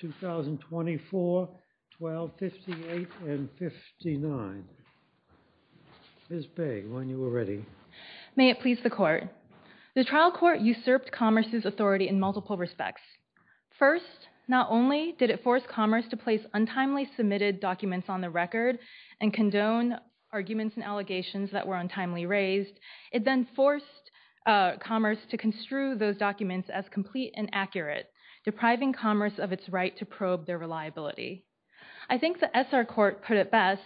2024, 1258, and 59. Ms. Pei, when you are ready. May it please the Court. The trial court usurped Commerce's authority in multiple respects. First, not only did it force Commerce to place untimely submitted documents on the record and condone arguments and allegations that were untimely raised, it then forced Commerce to construe those documents as complete and accurate, depriving Commerce of its right to probe their reliability. I think the SR Court put it best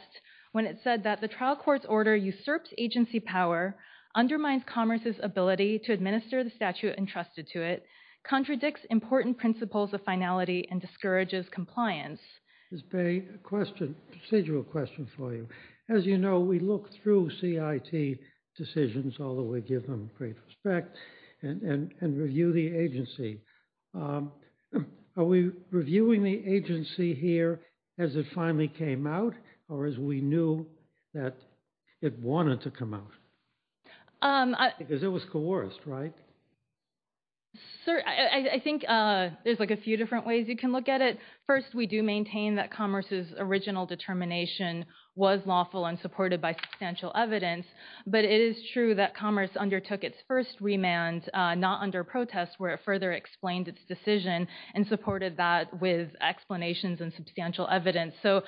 when it said that the trial court's order usurps agency power, undermines Commerce's ability to administer the statute entrusted to it, contradicts important principles of finality, and discourages compliance. Ms. Pei, a question, procedural question for you. As you know, we look through CIT decisions, although we give them great respect, and review the agency. Are we reviewing the agency here as it finally came out, or as we knew that it wanted to come out? Because it was coerced, right? Sir, I think there's like a few different ways you can look at it. First, we do maintain that Commerce's original determination was lawful and supported by substantial evidence, but it is true that Commerce undertook its first remand not under protest, where it further explained its decision and supported that with explanations and substantial evidence. So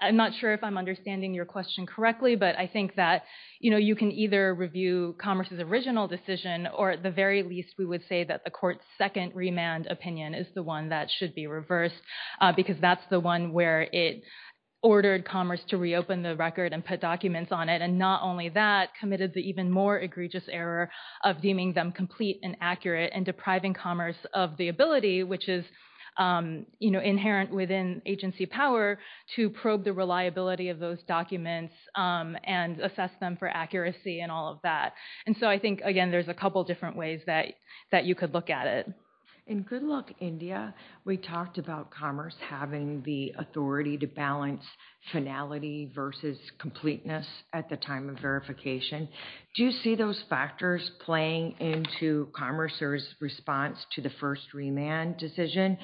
I'm not sure if I'm understanding your question correctly, but I think that, you can either review Commerce's original decision, or at the very least, we would say that the court's second remand opinion is the one that should be reversed, because that's the one where it ordered Commerce to reopen the record and put documents on it, and not only that, committed the even more egregious error of deeming them complete and accurate, and depriving Commerce of the ability, which is inherent within agency power, to probe the reliability of those documents and assess them for accuracy and all of that. And so I think, again, there's a couple different ways that you could look at it. In Good Luck India, we talked about Commerce having the authority to balance finality versus completeness at the time of verification. Do you see those factors playing into Commerce's response to the first remand decision?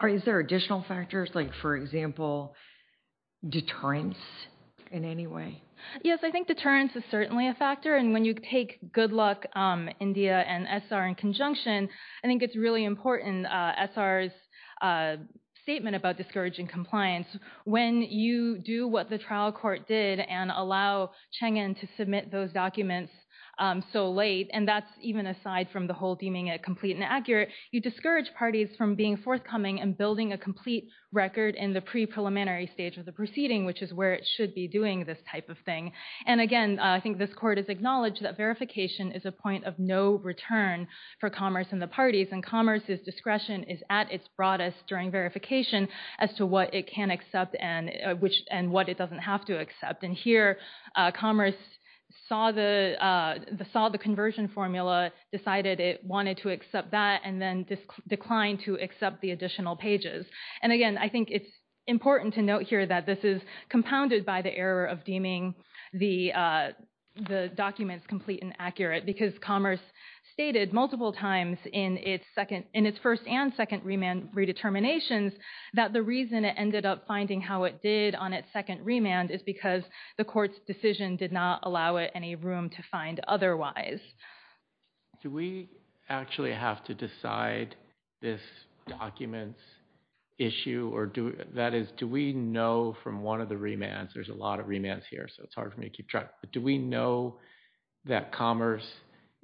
Or is there additional factors, like, for example, deterrence in any way? Yes, I think deterrence is certainly a factor, and when you take Good Luck India and SR in conjunction, I think it's really important, SR's statement about discouraging compliance, when you do what the trial court did and allow Chengin to submit those documents so late, and that's even aside from the whole deeming it complete and accurate, you discourage parties from being forthcoming and building a complete record in the pre-preliminary stage of the proceeding, which is where it should be doing this type of thing. And again, I think this court has acknowledged that verification is a point of no return for Commerce and the parties, and Commerce's discretion is at its broadest during verification as to what it can accept and what it doesn't have to accept. And here, Commerce saw the conversion formula, decided it wanted to accept that, and then declined to accept the additional pages. And again, I think it's important to note here that this is compounded by the error of deeming the documents complete and accurate, because Commerce stated multiple times in its first and second remand redeterminations that the reason it ended up finding how it did on its second remand is because the court's decision did not allow it any room to find otherwise. Do we actually have to decide this document's issue, or that is, do we know from one of the remands, there's a lot of remands here, so it's hard for me to keep track, but do we know that Commerce,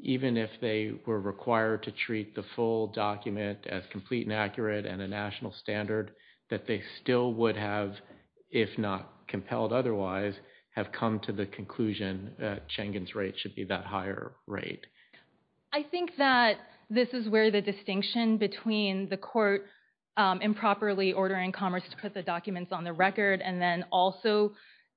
even if they were required to treat the full document as complete and accurate and a national standard, that they still would have, if not compelled otherwise, have come to the conclusion that Chengen's rate should be that higher rate? I think that this is where the distinction between the court improperly ordering Commerce to put the documents on the record and then also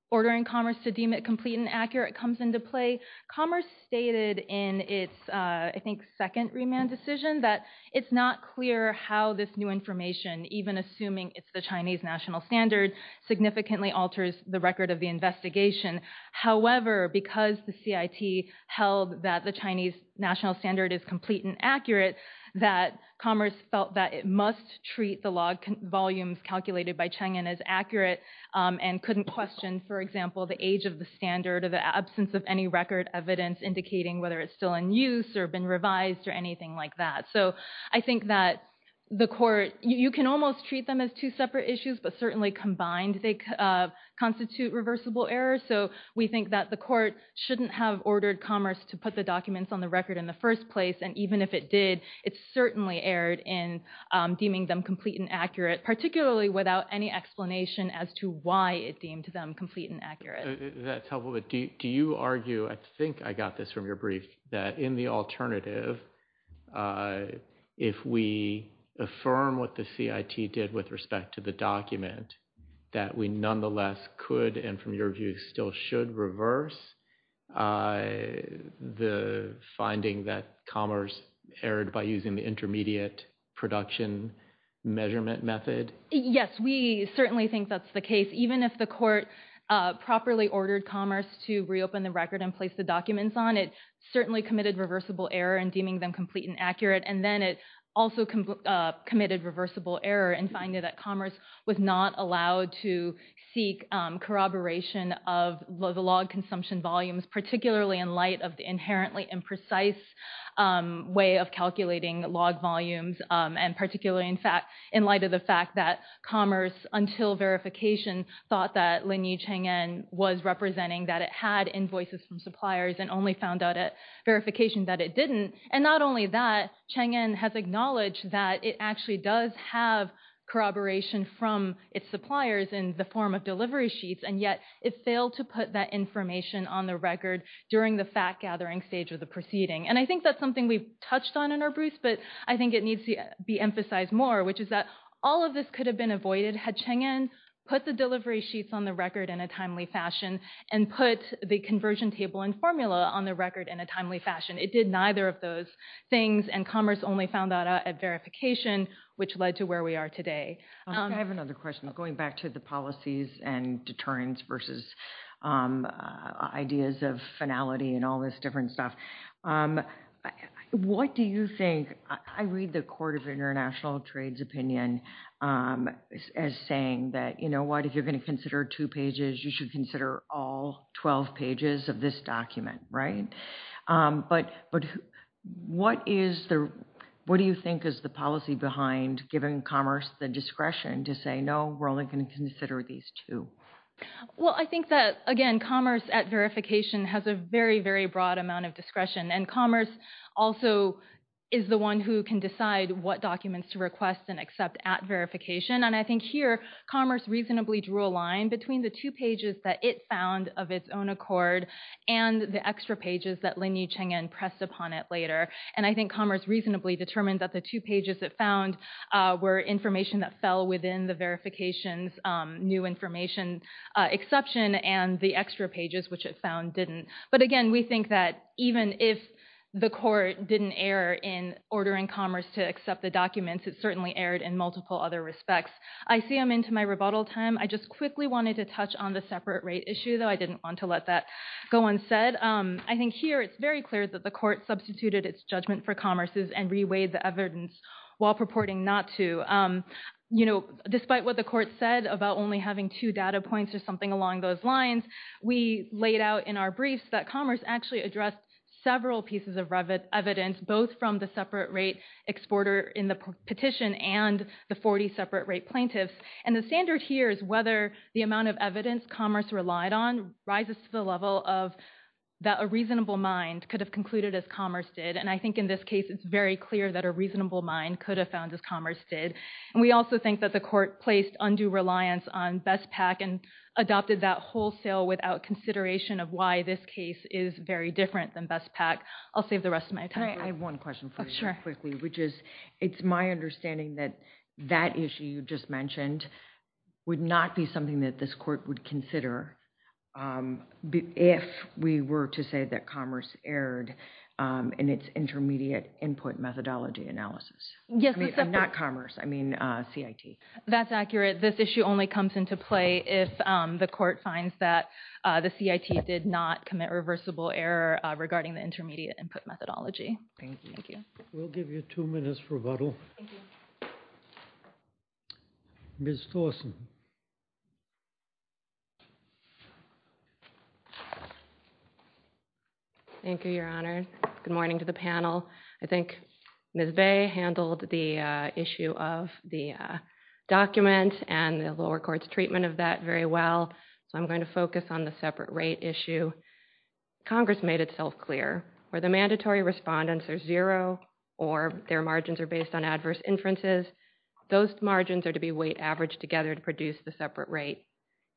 ordering Commerce to deem it complete and accurate comes into play. Commerce stated in its, I think, second remand decision that it's not clear how this new information, even assuming it's the Chinese national standard, significantly alters the record of the investigation. However, because the CIT held that the Chinese national standard is complete and accurate, that Commerce felt that it must treat the log volumes calculated by Chengen as accurate and couldn't question, for example, the age of the standard or the absence of any record evidence indicating whether it's still in use or been revised or anything like that. So I think that the court, you can almost treat them as two separate issues, but certainly combined they constitute reversible errors. So we think that the court shouldn't have ordered Commerce to put the documents on the record in the first place, and even if it did, it certainly erred in deeming them complete and accurate, particularly without any explanation as to why it deemed them complete and accurate. That's helpful, but do you argue, I think I got this from your brief, that in the alternative, if we affirm what the CIT did with respect to the document, that we nonetheless could and from your view still should reverse the finding that Commerce erred by using the intermediate production measurement method? Yes, we certainly think that's the case. Even if the court properly ordered Commerce to reopen the record and place the documents on, it certainly committed reversible error in deeming them complete and accurate, and then it also committed reversible error in finding that Commerce was not allowed to seek corroboration of the log consumption volumes, particularly in light of the inherently imprecise way of calculating log volumes, and particularly in light of the fact that Commerce, until verification, thought that Linyi Cheng'en was representing that it had invoices from suppliers and only found out at verification that it didn't, and not only that, Cheng'en has acknowledged that it actually does have corroboration from its suppliers in the form of delivery sheets, and yet it failed to put that information on the record during the fact-gathering stage of the proceeding, and I think that's something we've touched on in our briefs, but I think it needs to be emphasized more, which is that all of this could have been avoided had Cheng'en put the delivery sheets on the record in a timely fashion and put the conversion table and formula on the record in a timely fashion. It did neither of those things, and Commerce only found out at verification, which led to where we are today. I have another question, going back to the policies and deterrents versus ideas of finality and all this different stuff. What do you think, I read the Court of International Trade's opinion as saying that, you know what, if you're going to consider two pages, you should consider all 12 pages of this document, right? But what is the, what do you think is the policy behind giving Commerce the discretion to say, no, we're only going to consider these two? Well, I think that, again, Commerce at verification has a very, very broad amount of discretion, and Commerce also is the one who can decide what documents to request and accept at verification, and I think here, Commerce reasonably drew a line between the two pages that it found of its own accord and the extra pages that Lin Yu Cheng'en pressed upon it later. And I think Commerce reasonably determined that the two pages it found were information that fell within the verification's new information exception, and the extra pages, which it found, But again, we think that even if the Court didn't err in ordering Commerce to accept the documents, it certainly erred in multiple other respects. I see I'm into my rebuttal time. I just quickly wanted to touch on the separate rate issue, though I didn't want to let that go unsaid. I think here, it's very clear that the Court substituted its judgment for Commerce's and weighed the evidence while purporting not to. You know, despite what the Court said about only having two data points or something along those lines, we laid out in our briefs that Commerce actually addressed several pieces of evidence, both from the separate rate exporter in the petition and the 40 separate rate plaintiffs, and the standard here is whether the amount of evidence Commerce relied on rises to the level of that a reasonable mind could have concluded as Commerce did, and I think in this case, it's very clear that a reasonable mind could have found as Commerce did, and we also think that the Court placed undue reliance on BESPAC and adopted that wholesale without consideration of why this case is very different than BESPAC. I'll save the rest of my time. I have one question for you, quickly, which is, it's my understanding that that issue you just mentioned would not be something that this Court would consider if we were to say that Commerce erred in its intermediate input methodology analysis. Yes, that's accurate. I mean, not Commerce. I mean, CIT. That's accurate. This issue only comes into play if the Court finds that the CIT did not commit reversible error regarding the intermediate input methodology. Thank you. Thank you. We'll give you two minutes for rebuttal. Ms. Thorsen. Thank you, Your Honor. Good morning to the panel. I think Ms. Bay handled the issue of the document and the lower court's treatment of that very well, so I'm going to focus on the separate rate issue. Congress made itself clear where the mandatory respondents are zero or their margins are based on adverse inferences. Those margins are to be weight averaged together to produce the separate rate.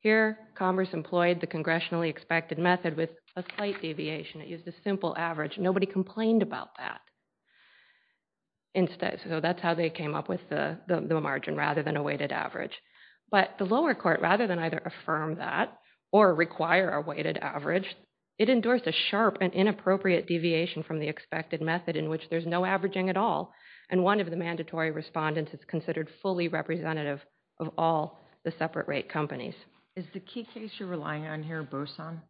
Here, Commerce employed the congressionally expected method with a slight deviation. It used a simple average. Nobody complained about that. So that's how they came up with the margin, rather than a weighted average. But the lower court, rather than either affirm that or require a weighted average, it endorsed a sharp and inappropriate deviation from the expected method in which there's no averaging at all. And one of the mandatory respondents is considered fully representative of all the separate rate companies. Is the key case you're relying on here Boson?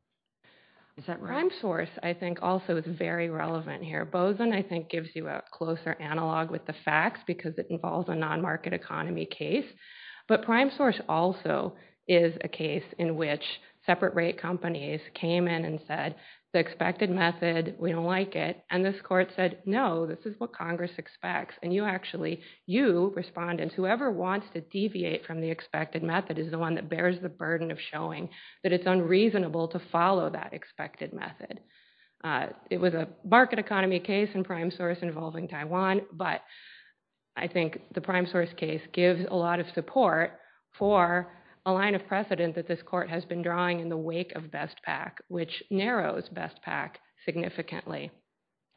Is that right? PrimeSource, I think, also is very relevant here. Boson, I think, gives you a closer analog with the facts because it involves a non-market economy case. But PrimeSource also is a case in which separate rate companies came in and said the expected method, we don't like it. And this court said, no, this is what Congress expects. And you actually, you, respondents, whoever wants to deviate from the expected method is the one that bears the burden of showing that it's unreasonable to follow that expected method. It was a market economy case in PrimeSource involving Taiwan, but I think the PrimeSource case gives a lot of support for a line of precedent that this court has been drawing in the wake of BestPak, which narrows BestPak significantly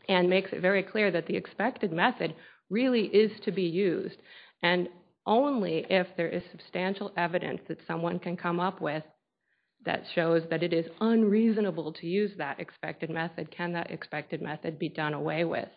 and makes it very clear that the expected method really is to be used. And only if there is substantial evidence that someone can come up with that shows that it is unreasonable to use that expected method can that expected method be done away with.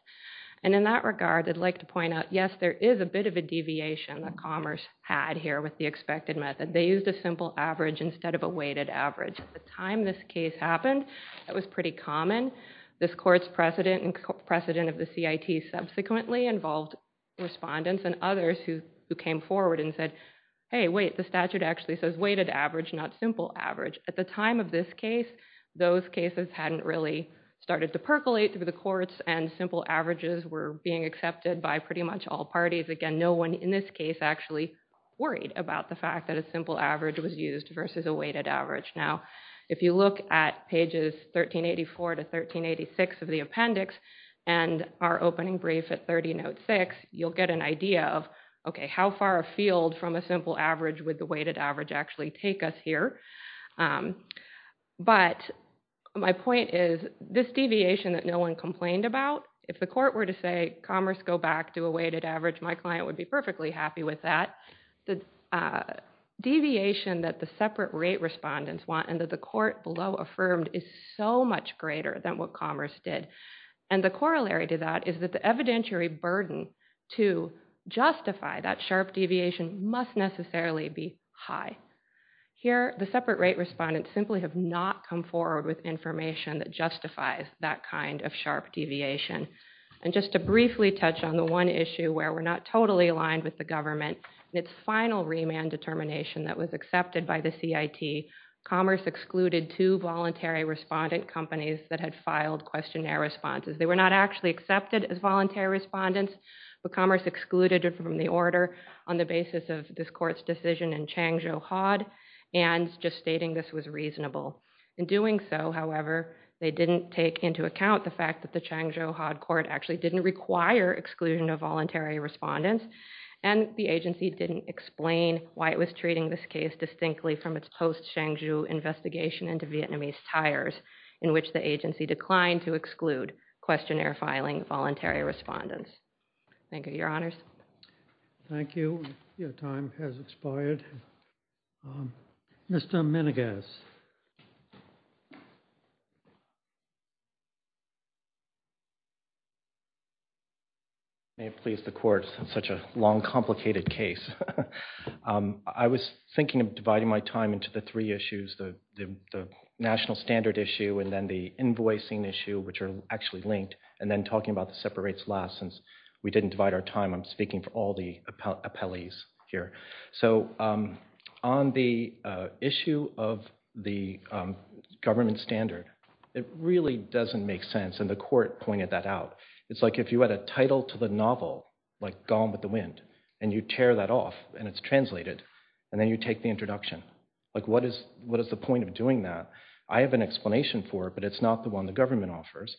And in that regard, I'd like to point out, yes, there is a bit of a deviation that Commerce had here with the expected method. They used a simple average instead of a weighted average. At the time this case happened, that was pretty common. This court's precedent and precedent of the CIT subsequently involved respondents and others who came forward and said, hey, wait, the statute actually says weighted average, not simple average. At the time of this case, those cases hadn't really started to percolate through the courts and simple averages were being accepted by pretty much all parties. Again, no one in this case actually worried about the fact that a simple average was used versus a weighted average. Now, if you look at pages 1384 to 1386 of the appendix and our opening brief at 30 note six, you'll get an idea of, okay, how far a field from a simple average with the weighted average actually take us here. But my point is this deviation that no one complained about, if the court were to say Commerce go back to a weighted average, my client would be perfectly happy with that. The deviation that the separate rate respondents want and that the court below affirmed is so much greater than what Commerce did. And the corollary to that is that the evidentiary burden to justify that sharp deviation must necessarily be high. Here the separate rate respondents simply have not come forward with information that justifies that kind of sharp deviation. And just to briefly touch on the one issue where we're not totally aligned with the government, its final remand determination that was accepted by the CIT, Commerce excluded two voluntary respondent companies that had filed questionnaire responses. They were not actually accepted as voluntary respondents, but Commerce excluded it from the order on the basis of this court's decision in Changzhou Hod and just stating this was reasonable. In doing so, however, they didn't take into account the fact that the Changzhou Hod court actually didn't require exclusion of voluntary respondents and the agency didn't explain why it was treating this case distinctly from its post-Changzhou investigation into Vietnamese tires in which the agency declined to exclude questionnaire filing voluntary respondents. Thank you, Your Honors. Thank you. Your time has expired. Mr. Menegas. May it please the court, such a long, complicated case. I was thinking of dividing my time into the three issues, the national standard issue and then the invoicing issue, which are actually linked, and then talking about the separate rates last since we didn't divide our time, I'm speaking for all the appellees here. So, on the issue of the government standard, it really doesn't make sense, and the court pointed that out. It's like if you add a title to the novel, like Gone with the Wind, and you tear that off and it's translated, and then you take the introduction, like what is the point of doing that? I have an explanation for it, but it's not the one the government offers,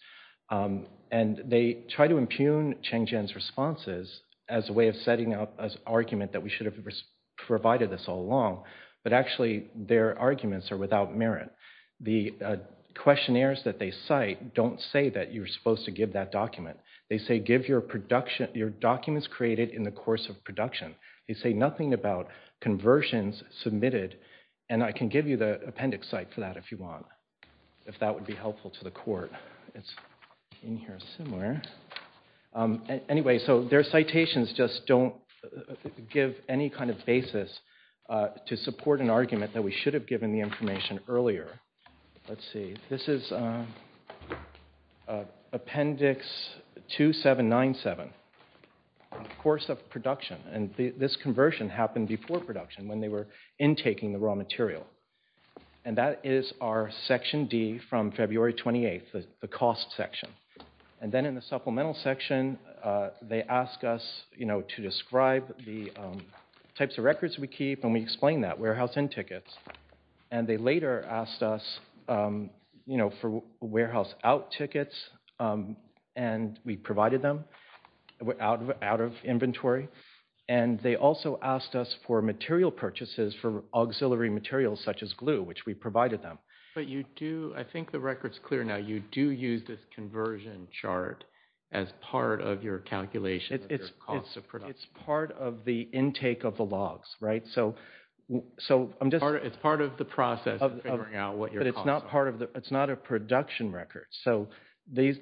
and they try to impugn Cheng Zhen's responses as a way of setting up an argument that we should have provided this all along, but actually their arguments are without merit. The questionnaires that they cite don't say that you're supposed to give that document. They say give your documents created in the course of production. They say nothing about conversions submitted, and I can give you the appendix site for that if you want, if that would be helpful to the court. It's in here somewhere. Anyway, so their citations just don't give any kind of basis to support an argument that we should have given the information earlier. Let's see, this is appendix 2797, course of production, and this conversion happened before production when they were intaking the raw material, and that is our section D from February 28th, the cost section, and then in the supplemental section, they ask us to describe the types of records we keep, and we explain that, warehouse in tickets, and they later asked us for warehouse out tickets, and we provided them out of inventory, and they also asked us for material purchases for auxiliary materials such as glue, which we provided them. But you do, I think the record is clear now, you do use this conversion chart as part of your calculation of your cost of production. It's part of the intake of the logs, right? So, I'm just... It's part of the process of figuring out what your costs are. It's not a production record, so these,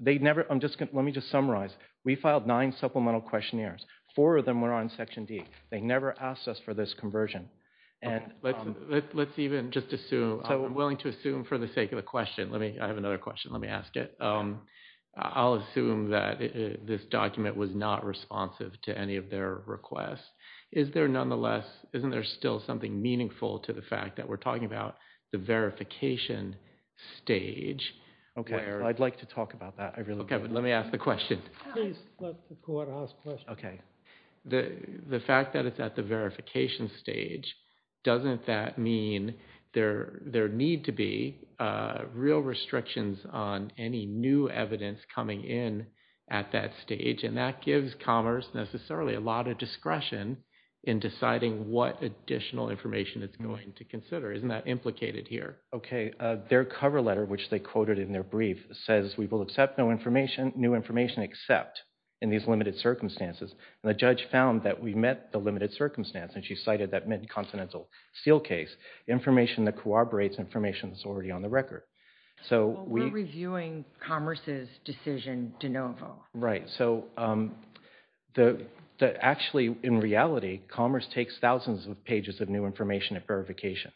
they never, let me just summarize. We filed nine supplemental questionnaires. Four of them were on section D. They never asked us for this conversion. Let's even just assume, I'm willing to assume for the sake of the question, let me, I have another question, let me ask it. I'll assume that this document was not responsive to any of their requests. Is there nonetheless, isn't there still something meaningful to the fact that we're talking about the verification stage? Okay, I'd like to talk about that. Okay, but let me ask the question. Please let the court ask questions. Okay. The fact that it's at the verification stage, doesn't that mean there need to be real restrictions on any new evidence coming in at that stage? And that gives Commerce necessarily a lot of discretion in deciding what additional information it's going to consider. Isn't that implicated here? Okay, their cover letter, which they quoted in their brief, says we will accept new information except in these limited circumstances. And the judge found that we met the limited circumstance, and she cited that Mid-Continental Steel case, information that corroborates information that's already on the record. So we're reviewing Commerce's decision de novo. Right. So actually, in reality, Commerce takes thousands of pages of new information at verification.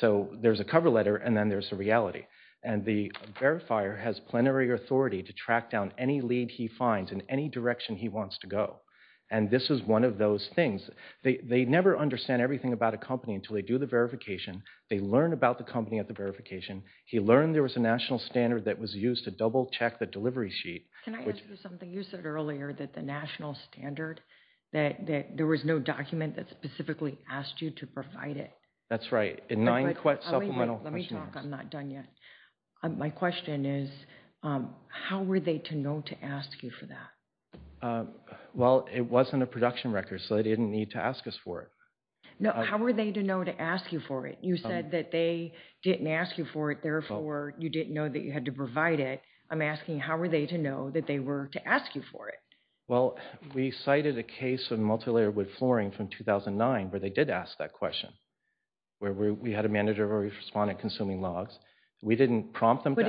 So there's a cover letter, and then there's a reality. And the verifier has plenary authority to track down any lead he finds in any direction he wants to go. And this is one of those things. They never understand everything about a company until they do the verification. They learn about the company at the verification. He learned there was a national standard that was used to double check the delivery sheet. Can I ask you something? You said earlier that the national standard, that there was no document that specifically asked you to provide it. That's right. Let me talk. I'm not done yet. My question is, how were they to know to ask you for that? Well, it wasn't a production record. So they didn't need to ask us for it. No. How were they to know to ask you for it? You said that they didn't ask you for it. Therefore, you didn't know that you had to provide it. I'm asking, how were they to know that they were to ask you for it? Well, we cited a case of multilayered wood flooring from 2009, where they did ask that question, where we had a manager who responded consuming logs. We didn't prompt them. In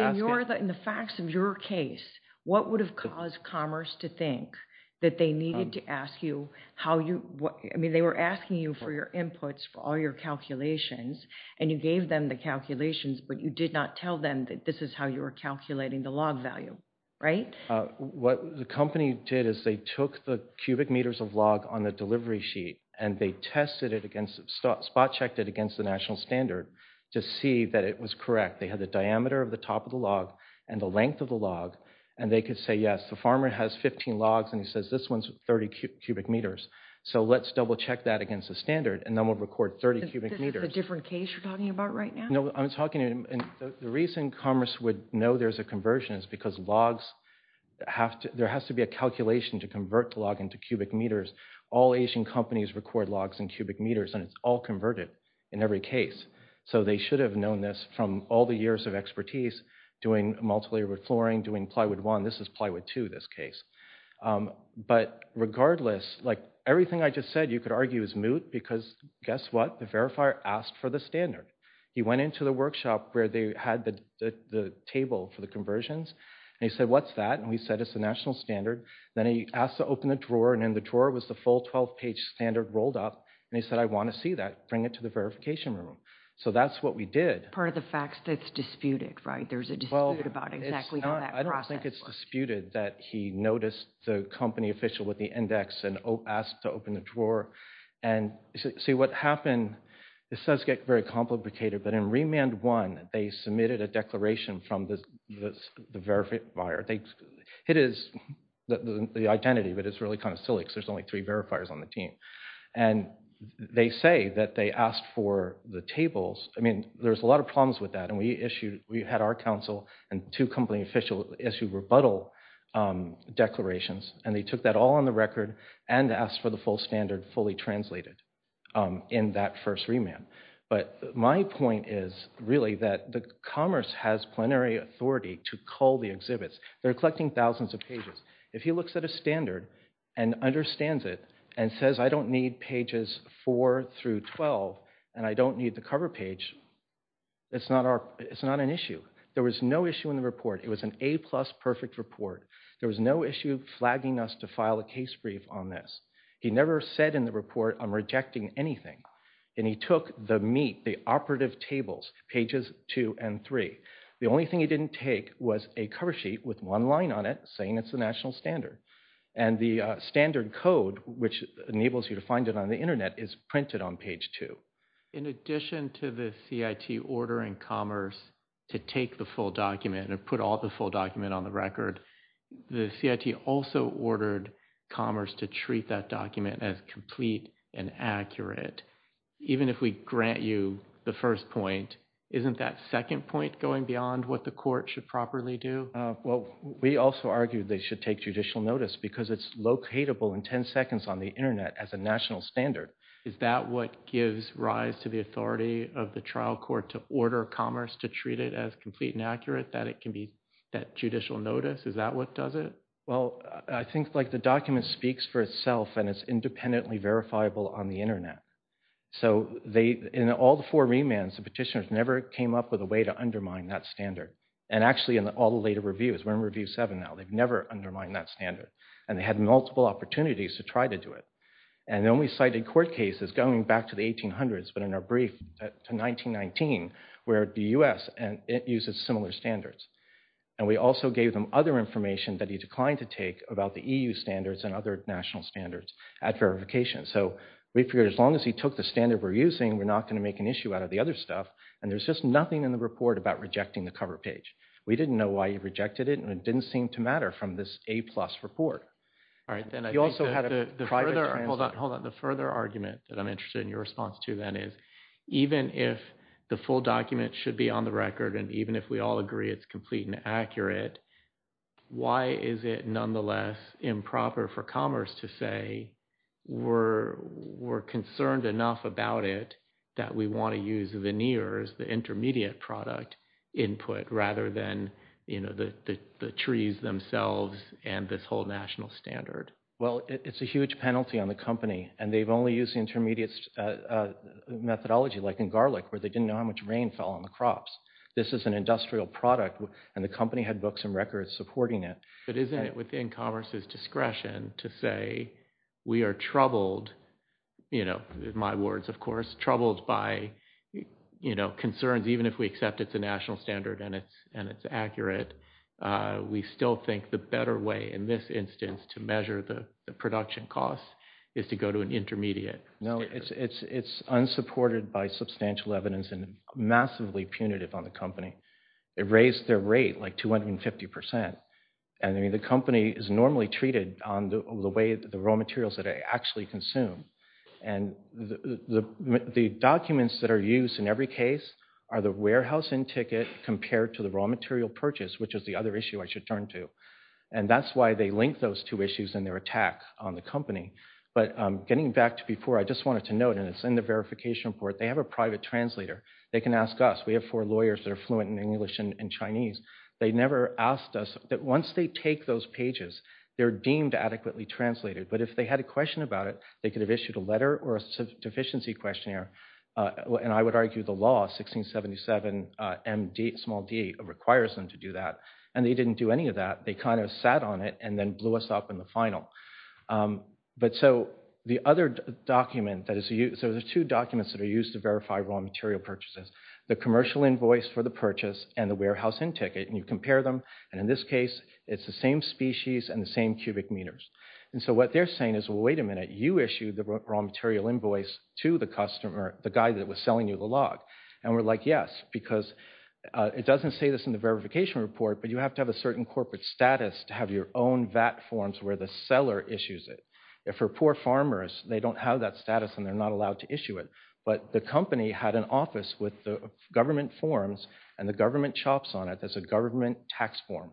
the facts of your case, what would have caused Commerce to think that they needed to ask you how you, I mean, they were asking you for your inputs for all your calculations, and you gave them the calculations, but you did not tell them that this is how you were calculating the log value, right? What the company did is they took the cubic meters of log on the delivery sheet, and they tested it against, spot checked it against the national standard to see that it was correct. They had the diameter of the top of the log and the length of the log, and they could say, yes, the farmer has 15 logs, and he says this one's 30 cubic meters, so let's double check that against the standard, and then we'll record 30 cubic meters. Is this a different case you're talking about right now? No, I'm talking, the reason Commerce would know there's a conversion is because logs, there has to be a calculation to convert the log into cubic meters. All Asian companies record logs in cubic meters, and it's all converted in every case. So they should have known this from all the years of expertise doing multilayered flooring, doing plywood one. This is plywood two, this case. But regardless, like everything I just said, you could argue is moot because guess what? The verifier asked for the standard. He went into the workshop where they had the table for the conversions, and he said, what's that? And we said, it's the national standard. Then he asked to open the drawer, and in the drawer was the full 12-page standard rolled up, and he said, I want to see that. Bring it to the verification room. So that's what we did. Part of the facts that's disputed, right? There's a dispute about exactly how that process works. I don't think it's disputed that he noticed the company official with the index and asked to open the drawer. And see what happened, this does get very complicated, but in remand one, they submitted a declaration from the verifier. It is the identity, but it's really kind of silly because there's only three verifiers on the team. And they say that they asked for the tables. I mean, there's a lot of problems with that, and we had our counsel and two company officials issue rebuttal declarations, and they took that all on the record and asked for the full standard fully translated in that first remand. But my point is really that the commerce has plenary authority to cull the exhibits. They're collecting thousands of pages. If he looks at a standard and understands it and says, I don't need pages four through 12, and I don't need the cover page, it's not an issue. There was no issue in the report. It was an A plus perfect report. There was no issue flagging us to file a case brief on this. He never said in the report, I'm rejecting anything. And he took the meat, the operative tables, pages two and three. The only thing he didn't take was a cover sheet with one line on it saying it's the national standard. And the standard code, which enables you to find it on the internet, is printed on page two. In addition to the CIT ordering commerce to take the full document and put all the full document on the record, the CIT also ordered commerce to treat that document as complete and accurate. Even if we grant you the first point, isn't that second point going beyond what the court should properly do? Well, we also argue they should take judicial notice because it's locatable in 10 seconds on the internet as a national standard. Is that what gives rise to the authority of the trial court to order commerce to treat it as complete and accurate, that it can be that judicial notice? Is that what does it? Well, I think the document speaks for itself, and it's independently verifiable on the internet. So, in all the four remands, the petitioners never came up with a way to undermine that standard. And actually, in all the later reviews, we're in review seven now, they've never undermined that standard. And they had multiple opportunities to try to do it. And the only cited court case is going back to the 1800s, but in our brief to 1919, where the US uses similar standards. And we also gave them other information that he declined to take about the EU standards and other national standards at verification. So, we figured as long as he took the standard we're using, we're not going to make an issue out of the other stuff. And there's just nothing in the report about rejecting the cover page. We didn't know why he rejected it. And it didn't seem to matter from this A plus report. All right. Then you also had a private... Hold on, hold on. The further argument that I'm interested in your response to that is, even if the full document should be on the record, and even if we all agree it's complete and accurate, why is it nonetheless improper for commerce to say we're concerned enough about it that we want to use veneers, the intermediate product input, rather than the trees themselves and this whole national standard? Well, it's a huge penalty on the company. And they've only used the intermediate methodology, like in garlic, where they didn't know how much rain fell on the crops. This is an industrial product, and the company had books and records supporting it. But isn't it within commerce's discretion to say, we are troubled, in my words, of course, troubled by concerns, even if we accept it's a national standard and it's accurate, we still think the better way in this instance to measure the production costs is to go to an intermediate? No, it's unsupported by substantial evidence and massively punitive on the company. It raised their rate like 250%. And the company is normally treated on the way the raw materials that are actually consumed. And the documents that are used in every case are the warehousing ticket compared to the raw material purchase, which is the other issue I should turn to. And that's why they link those two issues in their attack on the company. But getting back to before, I just wanted to note, and it's in the verification report, they have a private translator. They can ask us. We have four lawyers that are fluent in English and Chinese. They never asked us. Once they take those pages, they're deemed adequately translated. But if they had a question about it, they could have issued a letter or a deficiency questionnaire. And I would argue the law, 1677md requires them to do that. And they didn't do any of that. They kind of sat on it and then blew us up in the final. But so the other document that is used, so there's two documents that are used to verify raw material purchases, the commercial invoice for the purchase and the warehouse in ticket. And you compare them. And in this case, it's the same species and the same cubic meters. And so what they're saying is, well, wait a minute, you issued the raw material invoice to the customer, the guy that was selling you the log. And we're like, yes, because it doesn't say this in the verification report, but you have to have a certain corporate status to have your own VAT forms where the seller issues it for poor farmers. They don't have that status and they're not allowed to issue it. But the company had an office with the government forms and the government chops on it as a government tax form.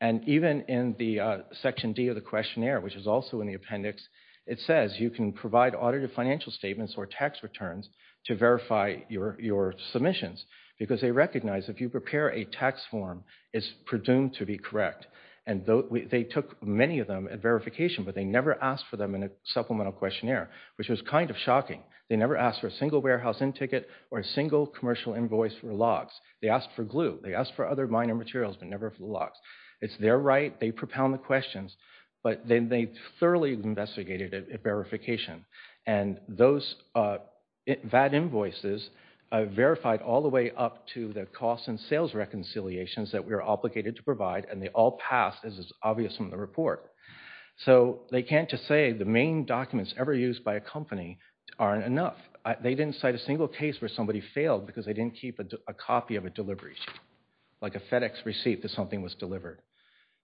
And even in the section D of the questionnaire, which is also in the appendix, it says you can provide audit of financial statements or tax returns to verify your submissions because they recognize if you prepare a tax form, it's presumed to be correct. And they took many of them at verification, but they never asked for them in a supplemental questionnaire, which was kind of shocking. They never asked for a single warehouse in ticket or a single commercial invoice for logs. They asked for glue. They asked for other minor materials, but never for the logs. It's their right. They propound the questions. But then they thoroughly investigated it at verification. And those VAT invoices verified all the way up to the cost and sales reconciliations that we are obligated to provide. And they all passed as is obvious from the report. So they can't just say the main documents ever used by a company aren't enough. They didn't cite a single case where somebody failed because they didn't keep a copy of a delivery sheet, like a FedEx receipt that something was delivered.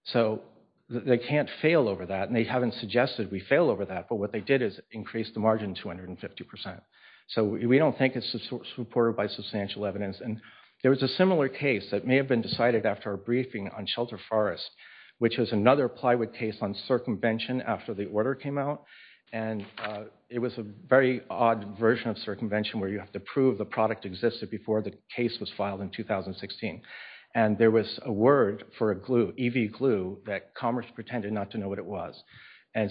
So they can't fail over that. And they haven't suggested we fail over that. But what they did is increase the margin 250%. So we don't think it's supported by substantial evidence. And there was a similar case that may have been decided after a briefing on Shelter Forest, which was another plywood case on circumvention after the order came out. And it was a very odd version of circumvention where you have to prove the product existed before the case was filed in 2016. And there was a word for a glue, EV glue, that Commerce pretended not to know what it was. And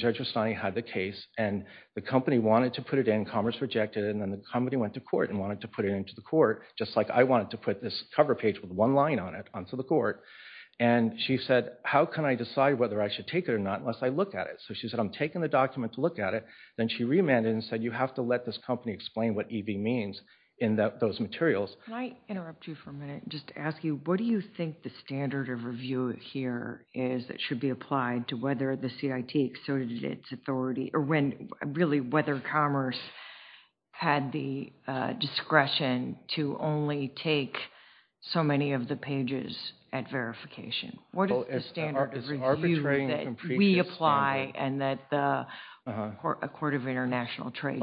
Judge Rustani had the case. And the company wanted to put it in. Commerce rejected it. And then the company went to court and wanted to put it into the court, just like I wanted to put this cover page with one line on it onto the court. And she said, how can I decide whether I should take it or not unless I look at it? So she said, I'm taking the document to look at it. Then she remanded and said, you have to let this company explain what EV means in those materials. Can I interrupt you for a minute and just ask you, what do you think the standard of review here is that should be applied to whether the CIT exerted its authority or really whether Commerce had the discretion to only take so many of the pages at verification? What is the standard of review that we apply and that a court of international trade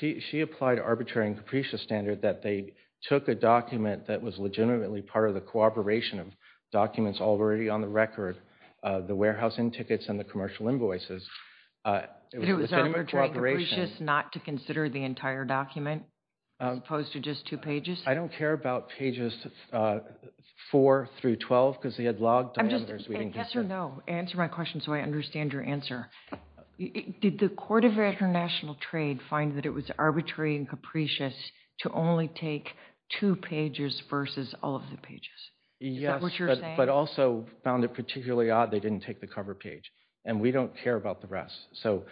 should She applied arbitrary and capricious standard that they took a document that was legitimately part of the cooperation of documents already on the record, the warehousing tickets and the commercial invoices. It was arbitrary and capricious not to consider the entire document as opposed to just two I don't care about pages 4 through 12 because they had logged diameters. Answer my question so I understand your answer. Did the court of international trade find that it was arbitrary and capricious to only take two pages versus all of the pages? Yes, but also found it particularly odd they didn't take the cover page and we don't care about the rest. So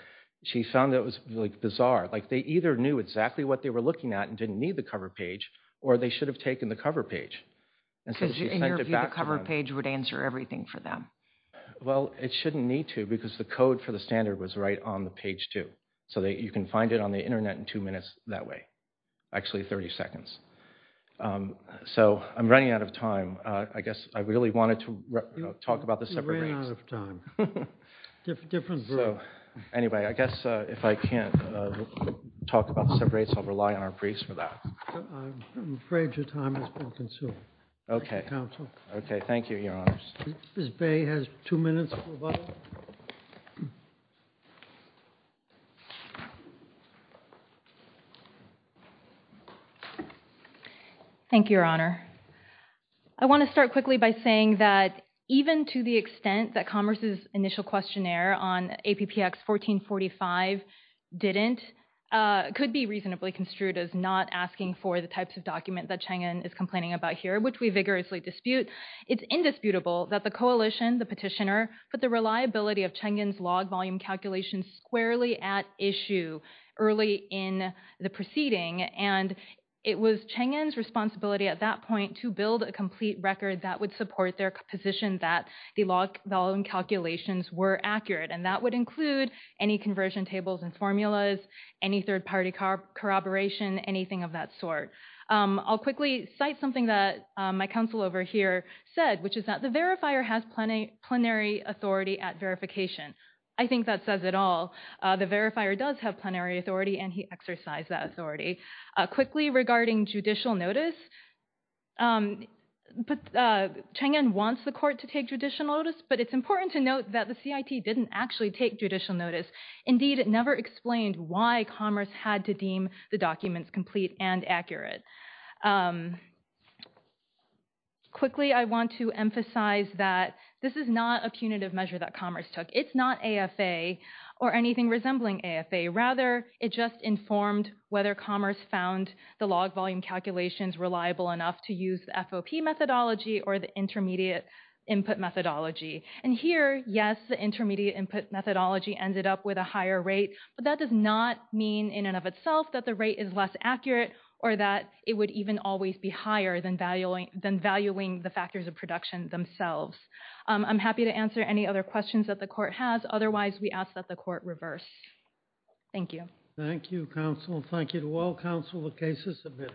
she found that it was bizarre. Like they either knew exactly what they were looking at and didn't need the cover page or they should have taken the cover page. Because the cover page would answer everything for them. Well, it shouldn't need to because the code for the standard was right on the page too. So you can find it on the internet in two minutes that way. Actually 30 seconds. So I'm running out of time. I guess I really wanted to talk about the separate rates. You ran out of time. Different group. Anyway, I guess if I can't talk about the separate rates, I'll rely on our briefs for that. I'm afraid your time has been consumed. Okay. Okay, thank you, your honors. Ms. Bay has two minutes. Thank you, your honor. I want to start quickly by saying that even to the extent that Commerce's initial questionnaire on APPX 1445 didn't, could be reasonably construed as not asking for the types of document that Chang'an is complaining about here, which we vigorously dispute. It's indisputable that the coalition, the petitioner, put the reliability of Chang'an's log volume calculations squarely at issue early in the proceeding. And it was Chang'an's responsibility at that point to build a complete record that would support their position that the log volume calculations were accurate. And that would include any conversion tables and formulas, any third party corroboration, anything of that sort. I'll quickly cite something that my counsel over here said, which is that the verifier has plenary authority at verification. I think that says it all. The verifier does have plenary authority and he exercised that authority. Quickly, regarding judicial notice, Chang'an wants the court to take judicial notice, but it's important to note that the CIT didn't actually take judicial notice. Indeed, it never explained why Commerce had to deem the documents complete and accurate. Quickly, I want to emphasize that this is not a punitive measure that Commerce took. It's not AFA or anything resembling AFA. Rather, it just informed whether Commerce found the log volume calculations reliable enough to use the FOP methodology or the intermediate input methodology. And here, yes, the intermediate input methodology ended up with a higher rate, but that does not mean in and of itself that the rate is less accurate or that it would even always be higher than valuing the factors of production themselves. I'm happy to answer any other questions that the court has. Otherwise, we ask that the court reverse. Thank you. Thank you, counsel. Thank you to all counsel. The case is submitted.